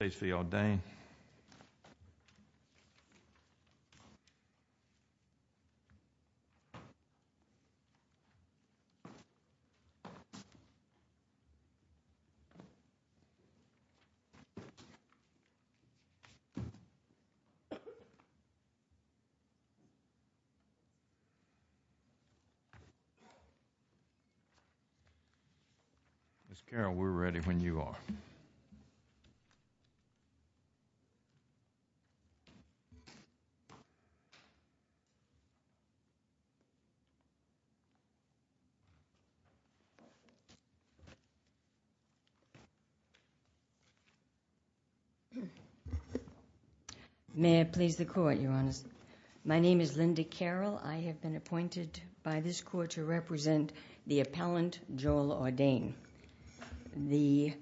States v. Audain Miss Carol, we're ready when you are. May I please the court, Your Honor? My name is Linda Carol. I have been appointed by this court to represent the appellant, Joel Audain. The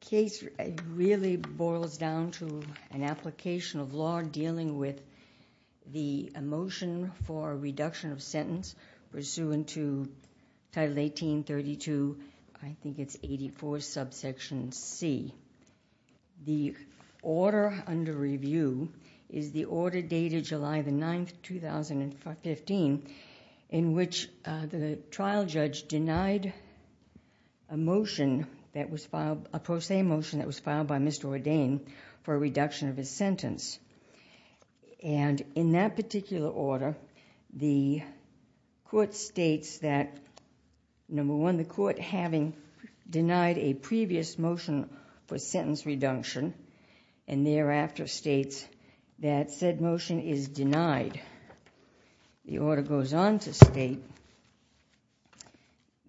case really boils down to an application of law dealing with the motion for reduction of sentence pursuant to Title 1832, I think it's 84, subsection C. The order under review the order dated July the 9th, 2015 in which the trial judge denied a motion, a pro se motion that was filed by Mr. Audain for a reduction of his sentence. In that particular order, the court states that number one, the court having denied a that said motion is denied. The order goes on to state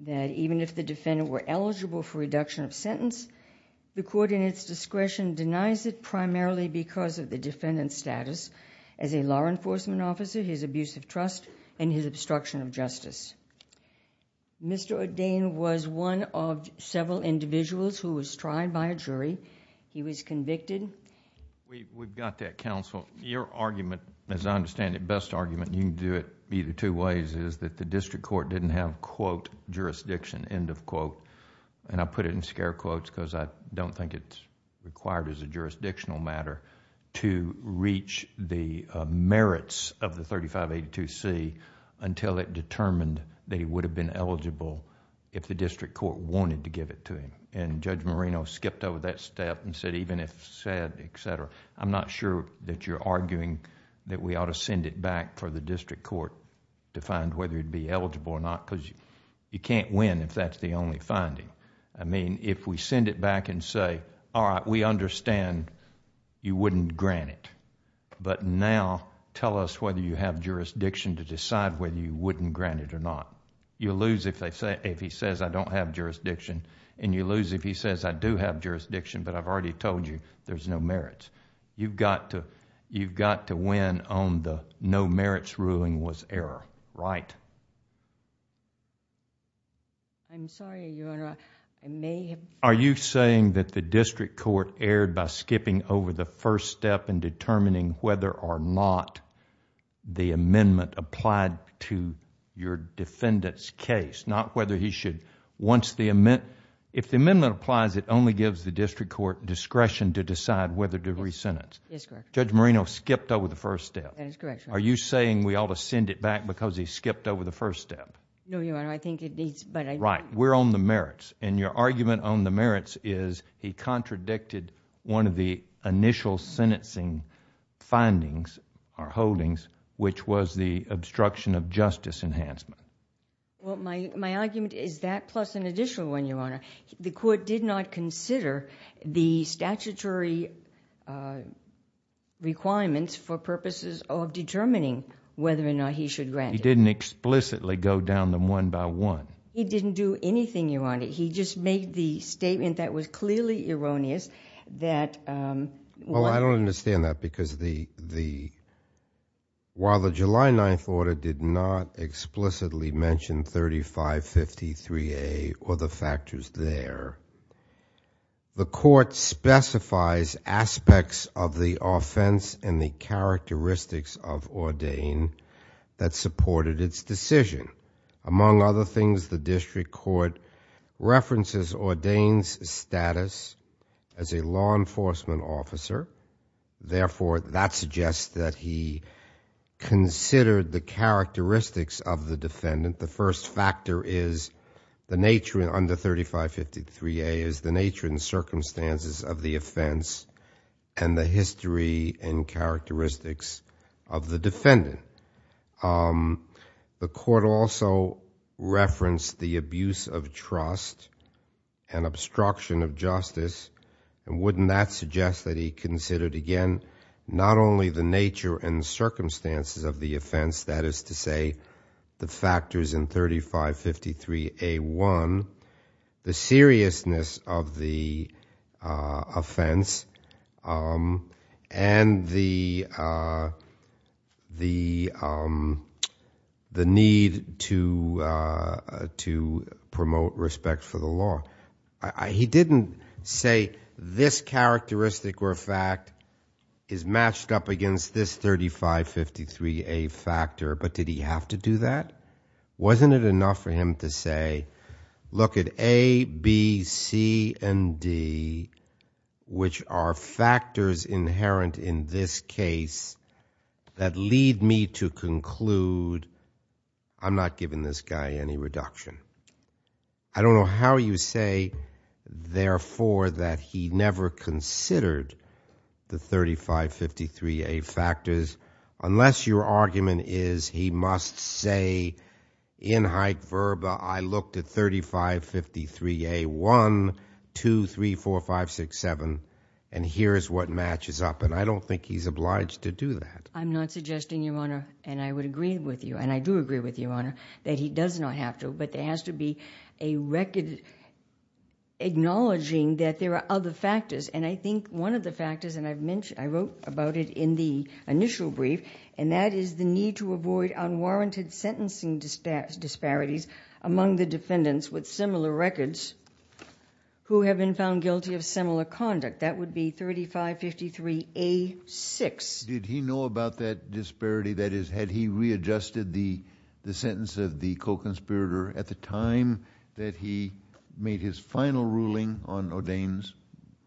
that even if the defendant were eligible for reduction of sentence, the court in its discretion denies it primarily because of the defendant's status as a law enforcement officer, his abuse of trust, and his obstruction of justice. Mr. Audain was one of several individuals who was tried by a jury. He was convicted... We've got that counsel. Your argument, as I understand it, best argument, you can do it either two ways, is that the district court didn't have, quote, jurisdiction, end of quote, and I put it in scare quotes because I don't think it's required as a jurisdictional matter to reach the merits of the 3582C until it determined that he would have been eligible if the district court wanted to give it to him. Judge Marino skipped over that step and said even if said, et cetera, I'm not sure that you're arguing that we ought to send it back for the district court to find whether he'd be eligible or not because you can't win if that's the only finding. If we send it back and say, all right, we understand you wouldn't grant it, but now tell us whether you have jurisdiction to decide whether you wouldn't grant it or not, you'll lose if he says, I do have jurisdiction, but I've already told you there's no merits. You've got to win on the no merits ruling was error, right? I'm sorry, Your Honor. Are you saying that the district court erred by skipping over the first step in determining whether or not the amendment applied to your defendant's case, not whether he should... If the amendment applies, it only gives the district court discretion to decide whether to re-sentence. Yes, correct. Judge Marino skipped over the first step. That is correct, Your Honor. Are you saying we ought to send it back because he skipped over the first step? No, Your Honor. I think it needs... Right. We're on the merits and your argument on the merits is he contradicted one of the initial sentencing findings or holdings which was the obstruction of justice enhancement. My argument is that plus an additional one, Your Honor. The court did not consider the statutory requirements for purposes of determining whether or not he should grant it. He didn't explicitly go down them one by one. He didn't do anything, Your Honor. He just made the statement that was clearly erroneous that... He didn't explicitly mention 3553A or the factors there. The court specifies aspects of the offense and the characteristics of Ordain that supported its decision. Among other things, the district court references Ordain's status as a law enforcement officer. Therefore, that suggests that he considered the characteristics of the defendant. The first factor is the nature under 3553A is the nature and circumstances of the offense and the history and characteristics of the defendant. The court also referenced the abuse of trust and obstruction of justice and wouldn't that suggest that he considered again not only the nature and circumstances of the offense, that is to say the factors in 3553A1, the seriousness of the offense and the need to promote respect for the law. He didn't say this characteristic or fact is matched up against this 3553A factor, but did he have to do that? Wasn't it enough for him to say, look at A, B, C, and D, which are factors inherent in this case that lead me to conclude I'm not giving this guy any reduction. I don't know how you say, therefore, that he never considered the 3553A factors unless your argument is he must say in high verba, I looked at 3553A1, 2, 3, 4, 5, 6, 7 and here's what matches up and I don't think he's obliged to do that. I'm not suggesting, Your Honor, and I would agree with you and I do agree with you, Your Honor, there has to be a record acknowledging that there are other factors and I think one of the factors and I wrote about it in the initial brief and that is the need to avoid unwarranted sentencing disparities among the defendants with similar records who have been found guilty of similar conduct. That would be 3553A6. Did he know about that disparity, that is, had he readjusted the sentence of the co-conspirator at the time that he made his final ruling on O'Dayne's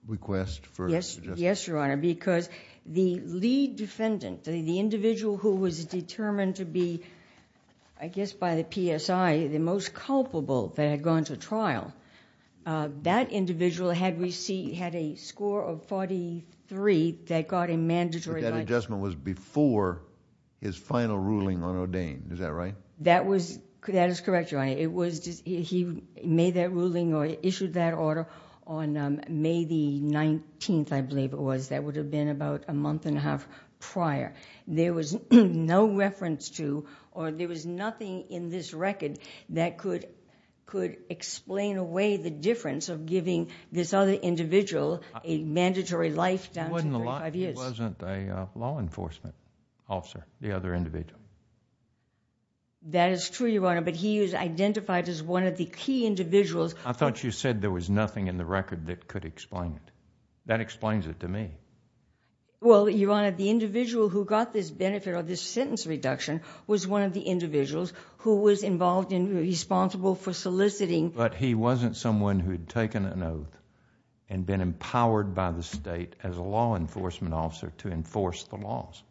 request for... Yes, Your Honor, because the lead defendant, the individual who was determined to be, I guess by the PSI, the most culpable that had gone to trial, that individual had a score of 43 that got him mandatory... But that adjustment was before his final ruling on O'Dayne, is that right? That was, that is correct, Your Honor. It was, he made that ruling or issued that order on May the 19th, I believe it was. That would have been about a month and a half prior. There was no reference to or there was nothing in this record that could explain away the individual a mandatory life down to 35 years. He wasn't a law enforcement officer, the other individual. That is true, Your Honor, but he is identified as one of the key individuals... I thought you said there was nothing in the record that could explain it. That explains it to me. Well, Your Honor, the individual who got this benefit or this sentence reduction was one of the individuals who was involved and responsible for soliciting... and been empowered by the state as a law enforcement officer to enforce the laws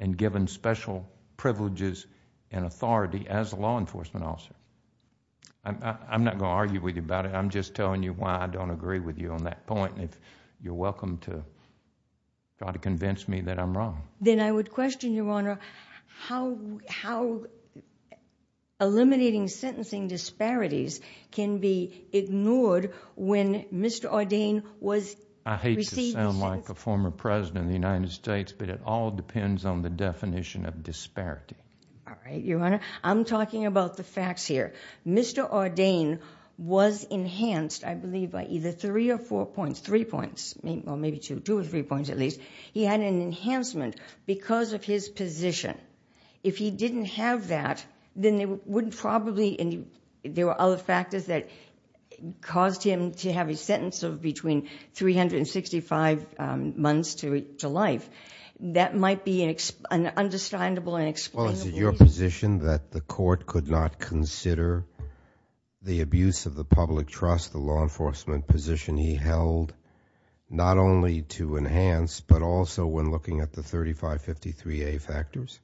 and given special privileges and authority as a law enforcement officer. I'm not going to argue with you about it. I'm just telling you why I don't agree with you on that point and you're welcome to try to convince me that I'm wrong. Then I would question, Your Honor, how eliminating sentencing disparities can be ignored when Mr. Ordain was... I hate to sound like a former president of the United States, but it all depends on the definition of disparity. All right, Your Honor. I'm talking about the facts here. Mr. Ordain was enhanced, I believe, by either three or four points, three points, well, maybe two, two or three points at least. He had an enhancement because of his position. If he didn't have that, then it wouldn't probably... and there were other factors that caused him to have a sentence of between three hundred and sixty-five months to life. That might be an understandable and explainable... Well, is it your position that the court could not consider the abuse of the public trust, the law enforcement position he held, not only to enhance, but also when looking at the 3553A factors?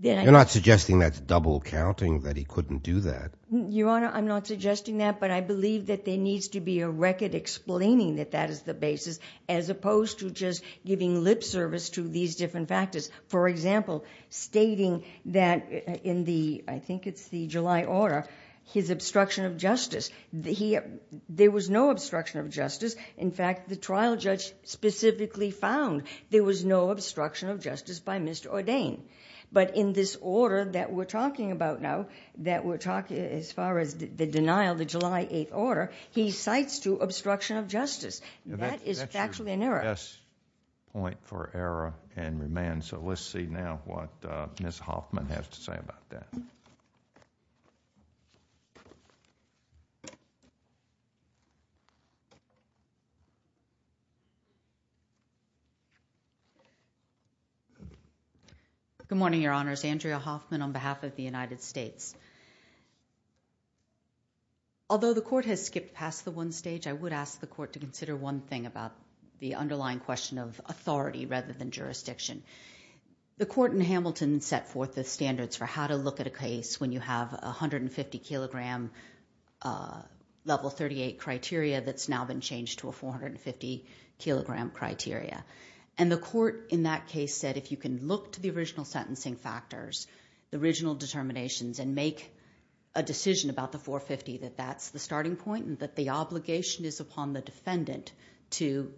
You're not suggesting that's double counting, that he couldn't do that? Your Honor, I'm not suggesting that, but I believe that there needs to be a record explaining that that is the basis, as opposed to just giving lip service to these different factors. For example, stating that in the, I think it's the July order, his obstruction of justice. There was no obstruction of justice. In fact, the trial judge specifically found there was no obstruction of justice by Mr. Ordain. But in this order that we're talking about now, that we're talking as far as the denial, the July 8th order, he cites to obstruction of justice. That is factually an error. That's your best point for error and remand, so let's see now what Ms. Hoffman has to say about that. Good morning, Your Honors. Andrea Hoffman on behalf of the United States. Although the court has skipped past the one stage, I would ask the court to consider one thing about the underlying question of authority rather than jurisdiction. The court in Hamilton set forth the standards for how to look at a case when you have 150 kilogram level 38 criteria that's now been changed to a 450 kilogram criteria. The court in that case said if you can look to the original sentencing factors, the original determinations and make a decision about the 450, that that's the starting point and that the obligation is upon the defendant to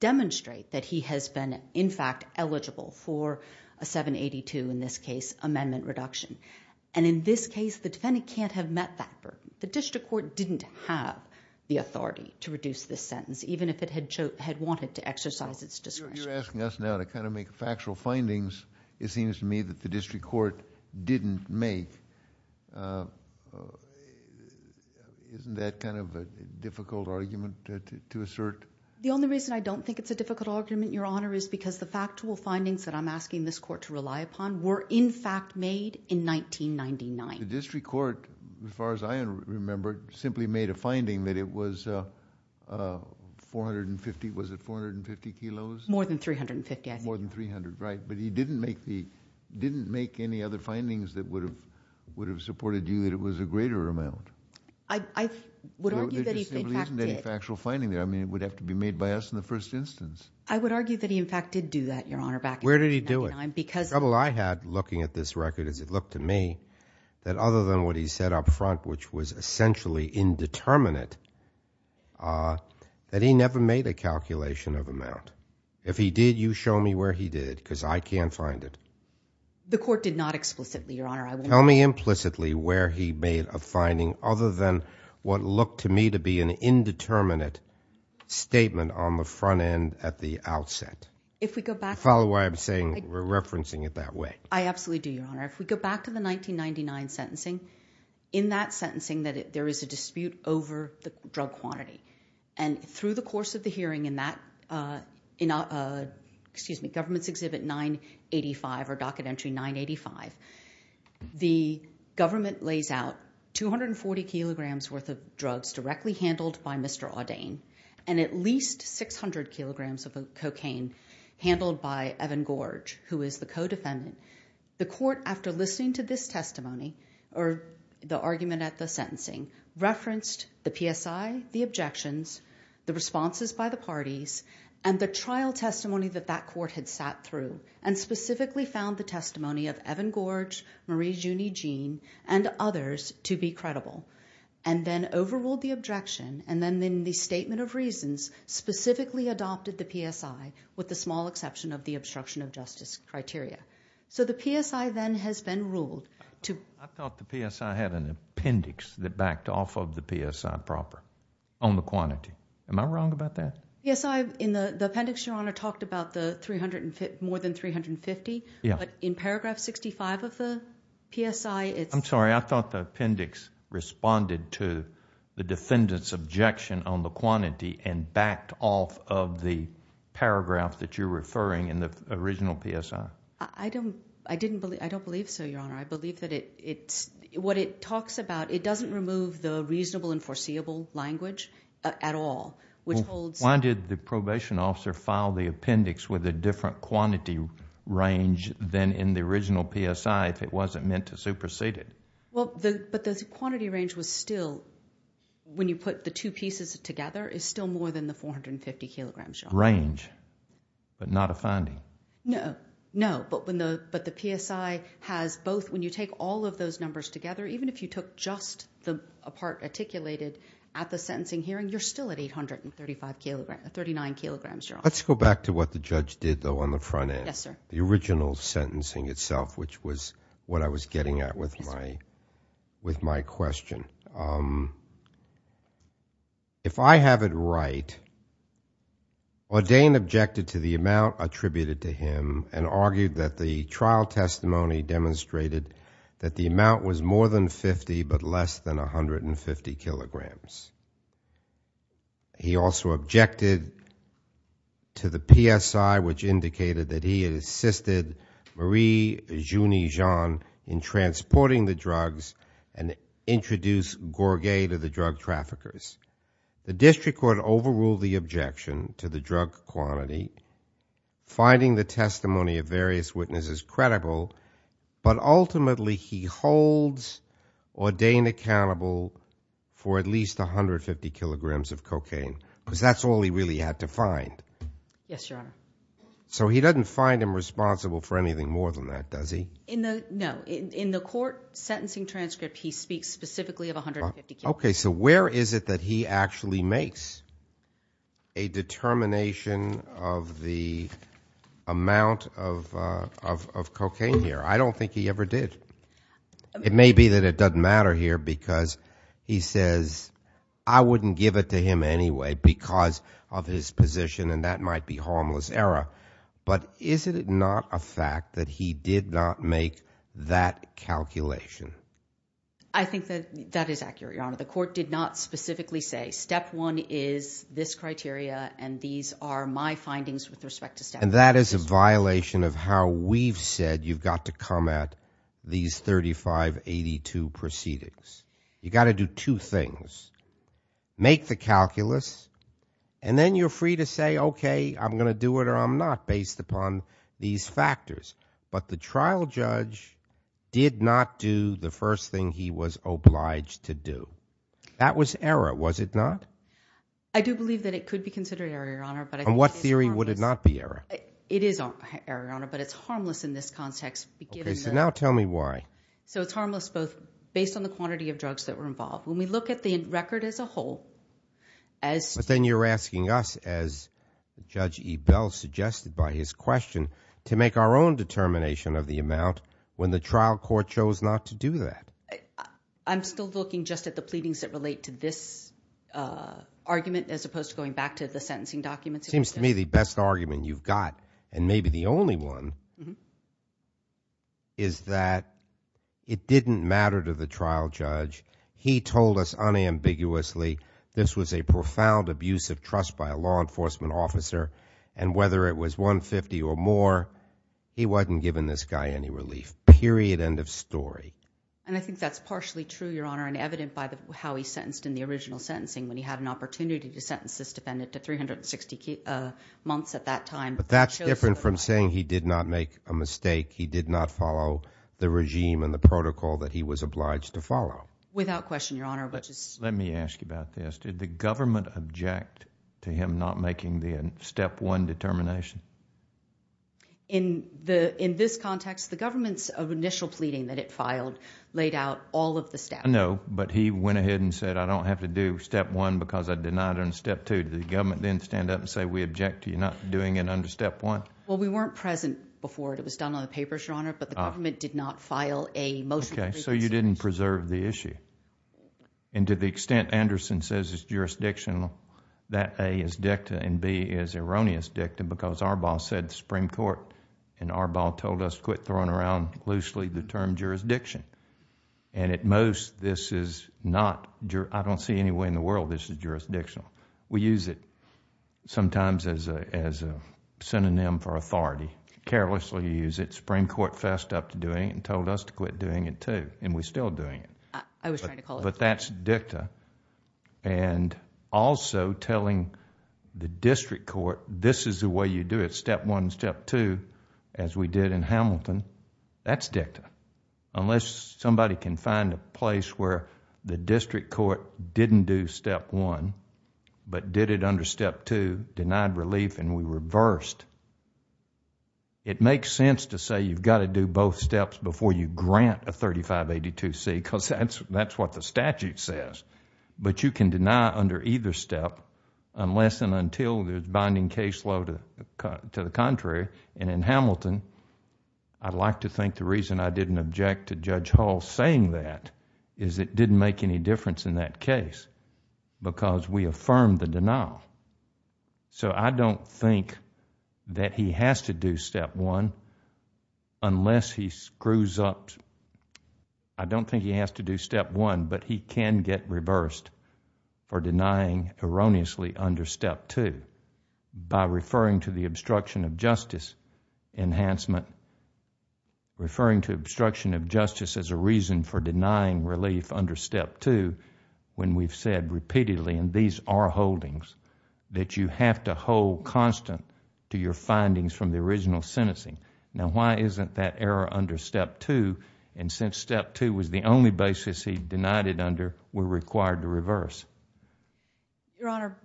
demonstrate that he has been in fact eligible for a 782, in this case, amendment reduction. In this case, the defendant can't have met that burden. The district court didn't have the authority to reduce this sentence, even if it had wanted to exercise its discretion. You're asking us now to kind of make factual findings. It seems to me that the district court didn't make. Isn't that kind of a difficult argument to assert? The only reason I don't think it's a difficult argument, Your Honor, is because the factual findings that I'm asking this court to rely upon were in fact made in 1999. The district court, as far as I remember, simply made a finding that it was 450, was it 450 kilos? More than 350, I think. More than 300, right. But he didn't make any other findings that would have supported you that it was a greater amount. There just simply isn't any factual finding there. I mean, it would have to be made by us in the first instance. I would argue that he in fact did do that, Your Honor, back in 1999 because... I would argue that other than what he said up front, which was essentially indeterminate, that he never made a calculation of amount. If he did, you show me where he did because I can't find it. The court did not explicitly, Your Honor. Tell me implicitly where he made a finding other than what looked to me to be an indeterminate statement on the front end at the outset. If we go back... Follow what I'm saying. We're referencing it that way. I absolutely do, Your Honor. If we go back to the 1999 sentencing, in that sentencing there is a dispute over the drug quantity. Through the course of the hearing in Government's Exhibit 985 or Docket Entry 985, the government lays out 240 kilograms worth of drugs directly handled by Mr. Audain and at least 600 kilograms of cocaine handled by Evan Gorge, who is the co-defendant. The court, after listening to this testimony, or the argument at the sentencing, referenced the PSI, the objections, the responses by the parties, and the trial testimony that that court had sat through, and specifically found the testimony of Evan Gorge, Marie Juney Jean, and others to be credible, and then overruled the objection, and then in the statement of reasons, specifically adopted the PSI with the small exception of the obstruction of justice criteria. The PSI then has been ruled to... I thought the PSI had an appendix that backed off of the PSI proper on the quantity. Am I wrong about that? Yes. The appendix, Your Honor, talked about more than 350, but in paragraph 65 of the PSI... I'm sorry. I thought the appendix responded to the defendant's objection on the quantity and backed off of the paragraph that you're referring in the original PSI. I don't believe so, Your Honor. I believe that it... what it talks about, it doesn't remove the reasonable and foreseeable language at all, which holds... Why did the probation officer file the appendix with a different quantity range than in the original PSI if it wasn't meant to supersede it? But the quantity range was still, when you put the two pieces together, is still more than the 450 kilograms, Your Honor. Range, but not a finding? No. No. But the PSI has both... when you take all of those numbers together, even if you took just the part articulated at the sentencing hearing, you're still at 835 kilograms... 39 kilograms, Your Honor. Let's go back to what the judge did, though, on the front end. Yes, sir. The original sentencing itself, which was what I was getting at with my question. If I have it right, Ordain objected to the amount attributed to him and argued that the trial testimony demonstrated that the amount was more than 50, but less than 150 kilograms. He also objected to the PSI, which indicated that he had assisted Marie Jeuny-Jean in transporting the drugs and introduced Gourguet to the drug traffickers. The district court overruled the objection to the drug quantity, finding the testimony of various witnesses credible, but ultimately, he holds Ordain accountable for at least 150 kilograms of cocaine because that's all he really had to find. Yes, Your Honor. So he doesn't find him responsible for anything more than that, does he? No. In the court sentencing transcript, he speaks specifically of 150 kilograms. Okay. So where is it that he actually makes a determination of the amount of cocaine here? I don't think he ever did. It may be that it doesn't matter here because he says, I wouldn't give it to him anyway because of his position, and that might be harmless error, but is it not a fact that he did not make that calculation? I think that that is accurate, Your Honor. The court did not specifically say, step one is this criteria, and these are my findings with respect to step one. And that is a violation of how we've said you've got to come at these 3582 proceedings. You got to do two things. Make the calculus, and then you're free to say, okay, I'm going to do it or I'm not based upon these factors. But the trial judge did not do the first thing he was obliged to do. That was error, was it not? I do believe that it could be considered error, Your Honor, but I think it is harmless. And what theory would it not be error? It is error, Your Honor, but it's harmless in this context, given the... Okay, so now tell me why. So it's harmless both based on the quantity of drugs that were involved. When we look at the record as a whole, as... to make our own determination of the amount when the trial court chose not to do that. I'm still looking just at the pleadings that relate to this argument as opposed to going back to the sentencing documents. Seems to me the best argument you've got, and maybe the only one, is that it didn't matter to the trial judge. He told us unambiguously this was a profound abuse of trust by a law enforcement officer, and whether it was 150 or more, he wasn't giving this guy any relief, period, end of story. And I think that's partially true, Your Honor, and evident by how he sentenced in the original sentencing when he had an opportunity to sentence this defendant to 360 months at that time. But that's different from saying he did not make a mistake, he did not follow the regime and the protocol that he was obliged to follow. Without question, Your Honor, which is... Let me ask you about this. Did the government object to him not making the Step 1 determination? In this context, the government's initial pleading that it filed laid out all of the steps. I know, but he went ahead and said, I don't have to do Step 1 because I denied it on Step 2. Did the government then stand up and say, we object to you not doing it under Step 1? Well, we weren't present before it was done on the papers, Your Honor, but the government did not file a motion... Okay, so you didn't preserve the issue. And to the extent Anderson says it's jurisdictional, that A is dicta and B is erroneous dicta because Arbaugh said to the Supreme Court, and Arbaugh told us to quit throwing around loosely the term jurisdiction. And at most, this is not, I don't see any way in the world this is jurisdictional. We use it sometimes as a synonym for authority, carelessly use it. Supreme Court fessed up to doing it and told us to quit doing it too, and we're still doing it. I was trying to call it... But that's dicta. And also telling the district court, this is the way you do it, Step 1, Step 2, as we did in Hamilton, that's dicta. Unless somebody can find a place where the district court didn't do Step 1, but did it under Step 2, denied relief and we reversed. It makes sense to say you've got to do both steps before you grant a 3582C because that's what the statute says, but you can deny under either step unless and until there's binding case law to the contrary. And in Hamilton, I'd like to think the reason I didn't object to Judge Hall saying that is it didn't make any difference in that case because we affirmed the denial. So, I don't think that he has to do Step 1 unless he screws up... I don't think he has to do Step 1, but he can get reversed for denying erroneously under Step 2 by referring to the obstruction of justice enhancement, referring to obstruction of justice as a reason for denying relief under Step 2 when we've said repeatedly, and these are holdings, that you have to hold constant to your findings from the original sentencing. Now, why isn't that error under Step 2, and since Step 2 was the only basis he denied it under, we're required to reverse? Your Honor,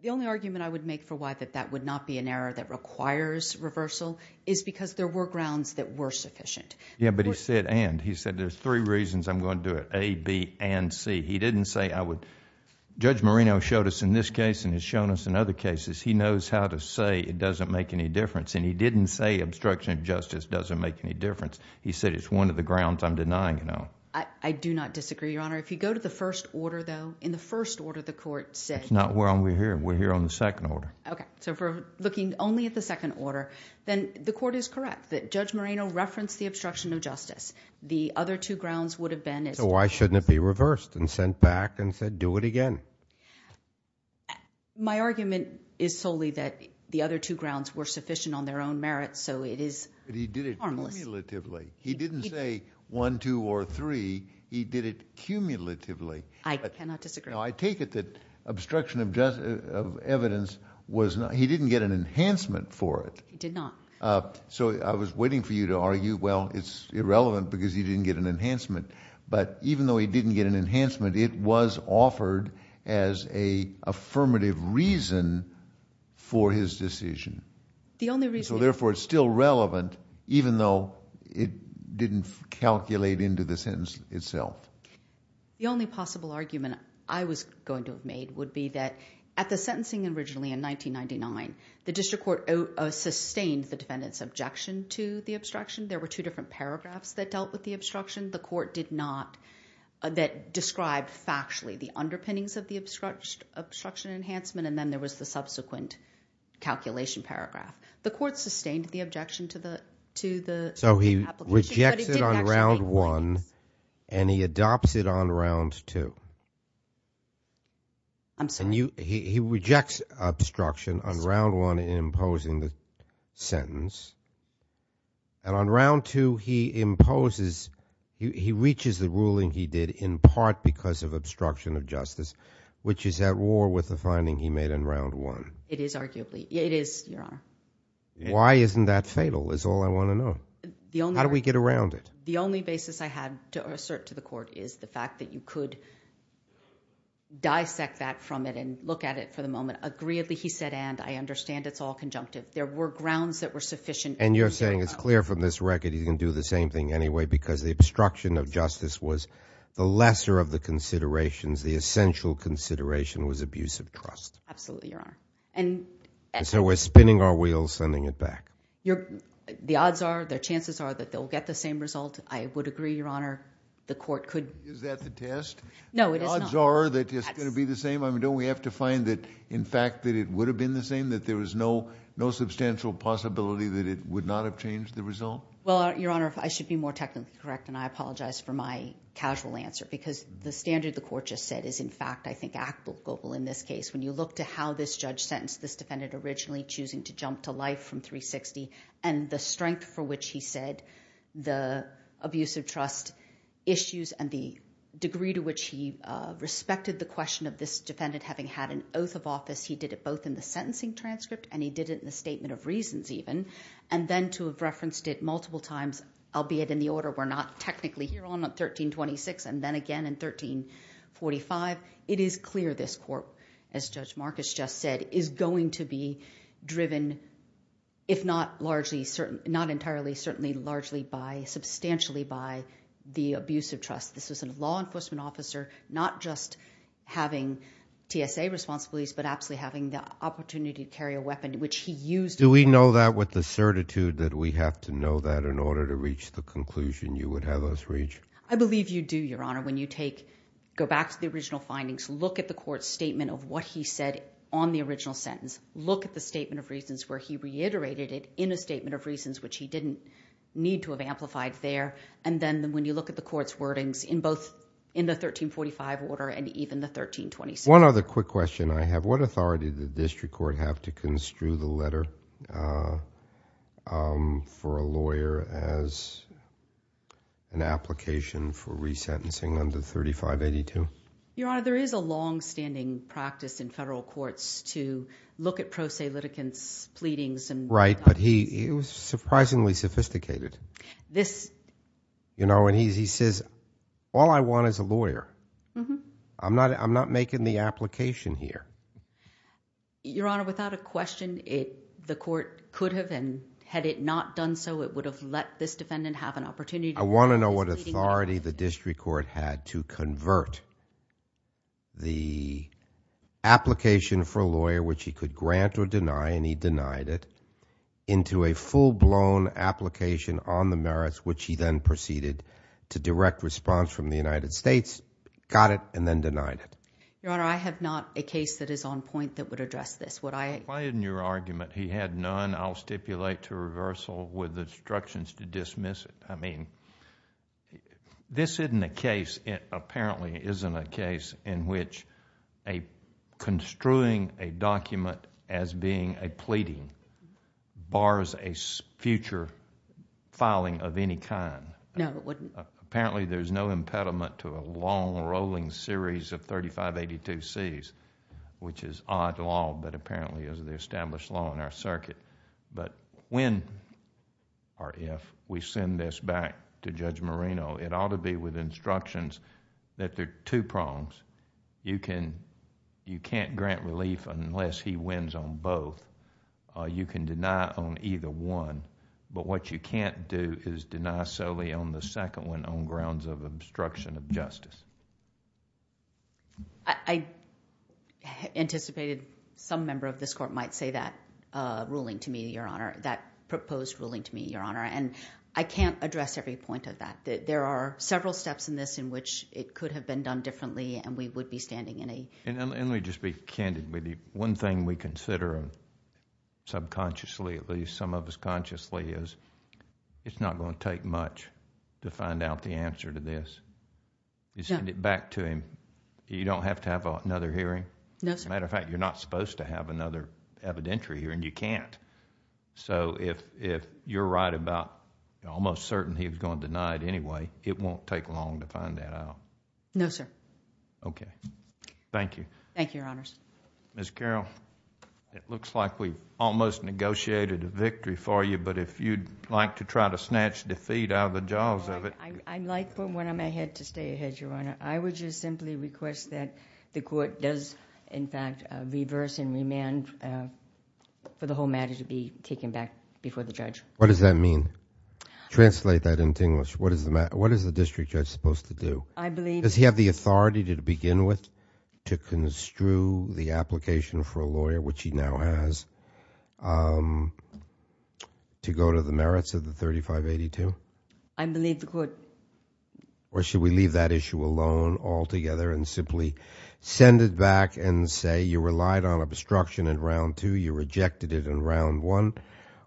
the only argument I would make for why that would not be an error that requires reversal is because there were grounds that were sufficient. Yeah, but he said and. He said there's three reasons I'm going to do it, A, B, and C. He didn't say I would... Judge Moreno showed us in this case and has shown us in other cases he knows how to say it doesn't make any difference, and he didn't say obstruction of justice doesn't make any difference. He said it's one of the grounds I'm denying it on. I do not disagree, Your Honor. If you go to the first order, though, in the first order the court said... That's not where we're here. We're here on the second order. Okay. So, if we're looking only at the second order, then the court is correct that Judge Moreno referenced the obstruction of justice. The other two grounds would have been... So, why shouldn't it be reversed and sent back and said do it again? My argument is solely that the other two grounds were sufficient on their own merit, so it is harmless. But he did it cumulatively. He didn't say one, two, or three. He did it cumulatively. I cannot disagree. Now, I take it that obstruction of evidence was not... he didn't get an enhancement for it. He did not. So, I was waiting for you to argue, well, it's irrelevant because he didn't get an enhancement. But even though he didn't get an enhancement, it was offered as a affirmative reason for his decision. The only reason... So, therefore, it's still relevant even though it didn't calculate into the sentence itself. The only possible argument I was going to have made would be that at the sentencing originally in 1999, the district court sustained the defendant's objection to the obstruction. There were two different paragraphs that dealt with the obstruction. The court did not... that described factually the underpinnings of the obstruction enhancement and then there was the subsequent calculation paragraph. The court sustained the objection to the... So, he rejects it on round one and he adopts it on round two. I'm sorry. He rejects obstruction on round one in imposing the sentence and on round two, he imposes... he reaches the ruling he did in part because of obstruction of justice, which is at war with the finding he made in round one. It is arguably. It is, Your Honor. Why isn't that fatal is all I want to know. How do we get around it? The only basis I have to assert to the court is the fact that you could dissect that from it and look at it for the moment. Agreeably, he said and. I understand it's all conjunctive. There were grounds that were sufficient... And you're saying it's clear from this record he's going to do the same thing anyway because the obstruction of justice was the lesser of the considerations. The essential consideration was abuse of trust. Absolutely, Your Honor. And... So, we're spinning our wheels, sending it back. The odds are, the chances are that they'll get the same result. I would agree, Your Honor. The court could... Is that the test? No, it is not. The odds are that it's going to be the same? I mean, don't we have to find that, in fact, that it would have been the same, that there was no substantial possibility that it would not have changed the result? Well, Your Honor, I should be more technically correct and I apologize for my casual answer because the standard the court just said is, in fact, I think applicable in this case. When you look to how this judge sentenced this defendant originally choosing to jump to life from 360 and the strength for which he said the abuse of trust issues and the respect of the question of this defendant having had an oath of office, he did it both in the sentencing transcript and he did it in the statement of reasons, even. And then to have referenced it multiple times, albeit in the order we're not technically here on in 1326 and then again in 1345. It is clear this court, as Judge Marcus just said, is going to be driven, if not largely, not entirely, certainly largely by... substantially by the abuse of trust. This was a law enforcement officer not just having TSA responsibilities but absolutely having the opportunity to carry a weapon which he used... Do we know that with the certitude that we have to know that in order to reach the conclusion you would have us reach? I believe you do, Your Honor. When you go back to the original findings, look at the court's statement of what he said on the original sentence, look at the statement of reasons where he reiterated it in a statement of reasons which he didn't need to have amplified there, and then when you look at the court's findings in both... in the 1345 order and even the 1326. One other quick question I have. What authority did the district court have to construe the letter for a lawyer as an application for resentencing under 3582? Your Honor, there is a longstanding practice in federal courts to look at pro se litigants' pleadings and... Right, but he was surprisingly sophisticated. This... You know, and he says, all I want is a lawyer. I'm not making the application here. Your Honor, without a question, the court could have and had it not done so, it would have let this defendant have an opportunity... I want to know what authority the district court had to convert the application for a which he then proceeded to direct response from the United States, got it, and then denied it. Your Honor, I have not a case that is on point that would address this. Would I... Why isn't your argument, he had none, I'll stipulate to reversal with instructions to dismiss it. I mean, this isn't a case... it apparently isn't a case in which construing a document as being a pleading bars a future filing of any kind. No, it wouldn't. Apparently, there's no impediment to a long rolling series of 3582Cs, which is odd law, but apparently is the established law in our circuit. But when or if we send this back to Judge Marino, it ought to be with instructions that there are two prongs. You can't grant relief unless he wins on both. You can deny on either one, but what you can't do is deny solely on the second one on grounds of obstruction of justice. I anticipated some member of this court might say that ruling to me, Your Honor, that proposed ruling to me, Your Honor, and I can't address every point of that. There are several steps in this in which it could have been done differently, and we would be standing in a... Let me just be candid with you. One thing we consider subconsciously, at least some of us consciously, is it's not going to take much to find out the answer to this. You send it back to him, you don't have to have another hearing. No, sir. As a matter of fact, you're not supposed to have another evidentiary hearing. You can't. If you're right about almost certain he was going to deny it anyway, it won't take long to find that out. No, sir. Thank you. Thank you, Your Honors. Ms. Carroll, it looks like we almost negotiated a victory for you, but if you'd like to try to snatch defeat out of the jaws of it... I'd like for one of my head to stay ahead, Your Honor. I would just simply request that the court does, in fact, reverse and remand for the whole matter to be taken back before the judge. What does that mean? Translate that into English. What is the district judge supposed to do? I believe... Does he have the authority to begin with to construe the application for a lawyer, which he now has, to go to the merits of the 3582? I believe the court... Or should we leave that issue alone altogether and simply send it back and say you relied on obstruction in round two, you rejected it in round one.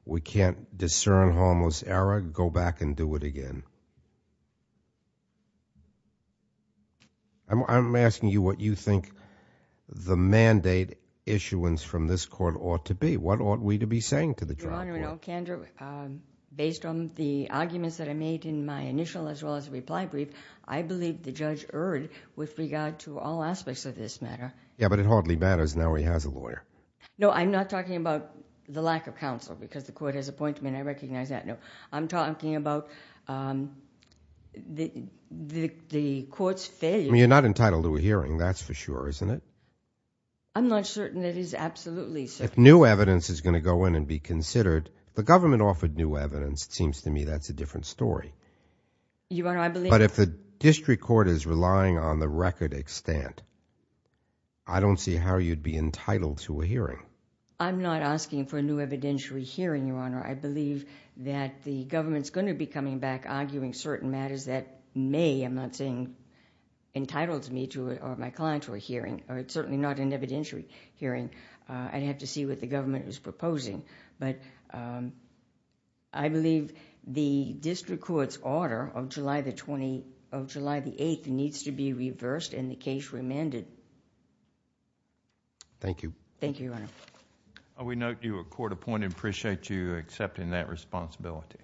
We can't discern harmless error. Go back and do it again. I'm asking you what you think the mandate issuance from this court ought to be. What ought we to be saying to the tribunal? Your Honor, in all candor, based on the arguments that I made in my initial as well as reply brief, I believe the judge erred with regard to all aspects of this matter. Yeah, but it hardly matters now he has a lawyer. No, I'm not talking about the lack of counsel because the court has appointed me and I recognize that. No, I'm talking about the court's failure... You're not entitled to a hearing, that's for sure, isn't it? I'm not certain it is absolutely certain. If new evidence is going to go in and be considered, the government offered new evidence, it seems to me that's a different story. Your Honor, I believe... I don't see how you'd be entitled to a hearing. I'm not asking for a new evidentiary hearing, Your Honor. I believe that the government is going to be coming back arguing certain matters that may, I'm not saying entitled me or my client to a hearing or certainly not an evidentiary hearing. I'd have to see what the government is proposing. I believe the district court's order of July the 8th needs to be reversed and the case remanded. Thank you. Thank you, Your Honor. We note you were court appointed, appreciate you accepting that responsibility.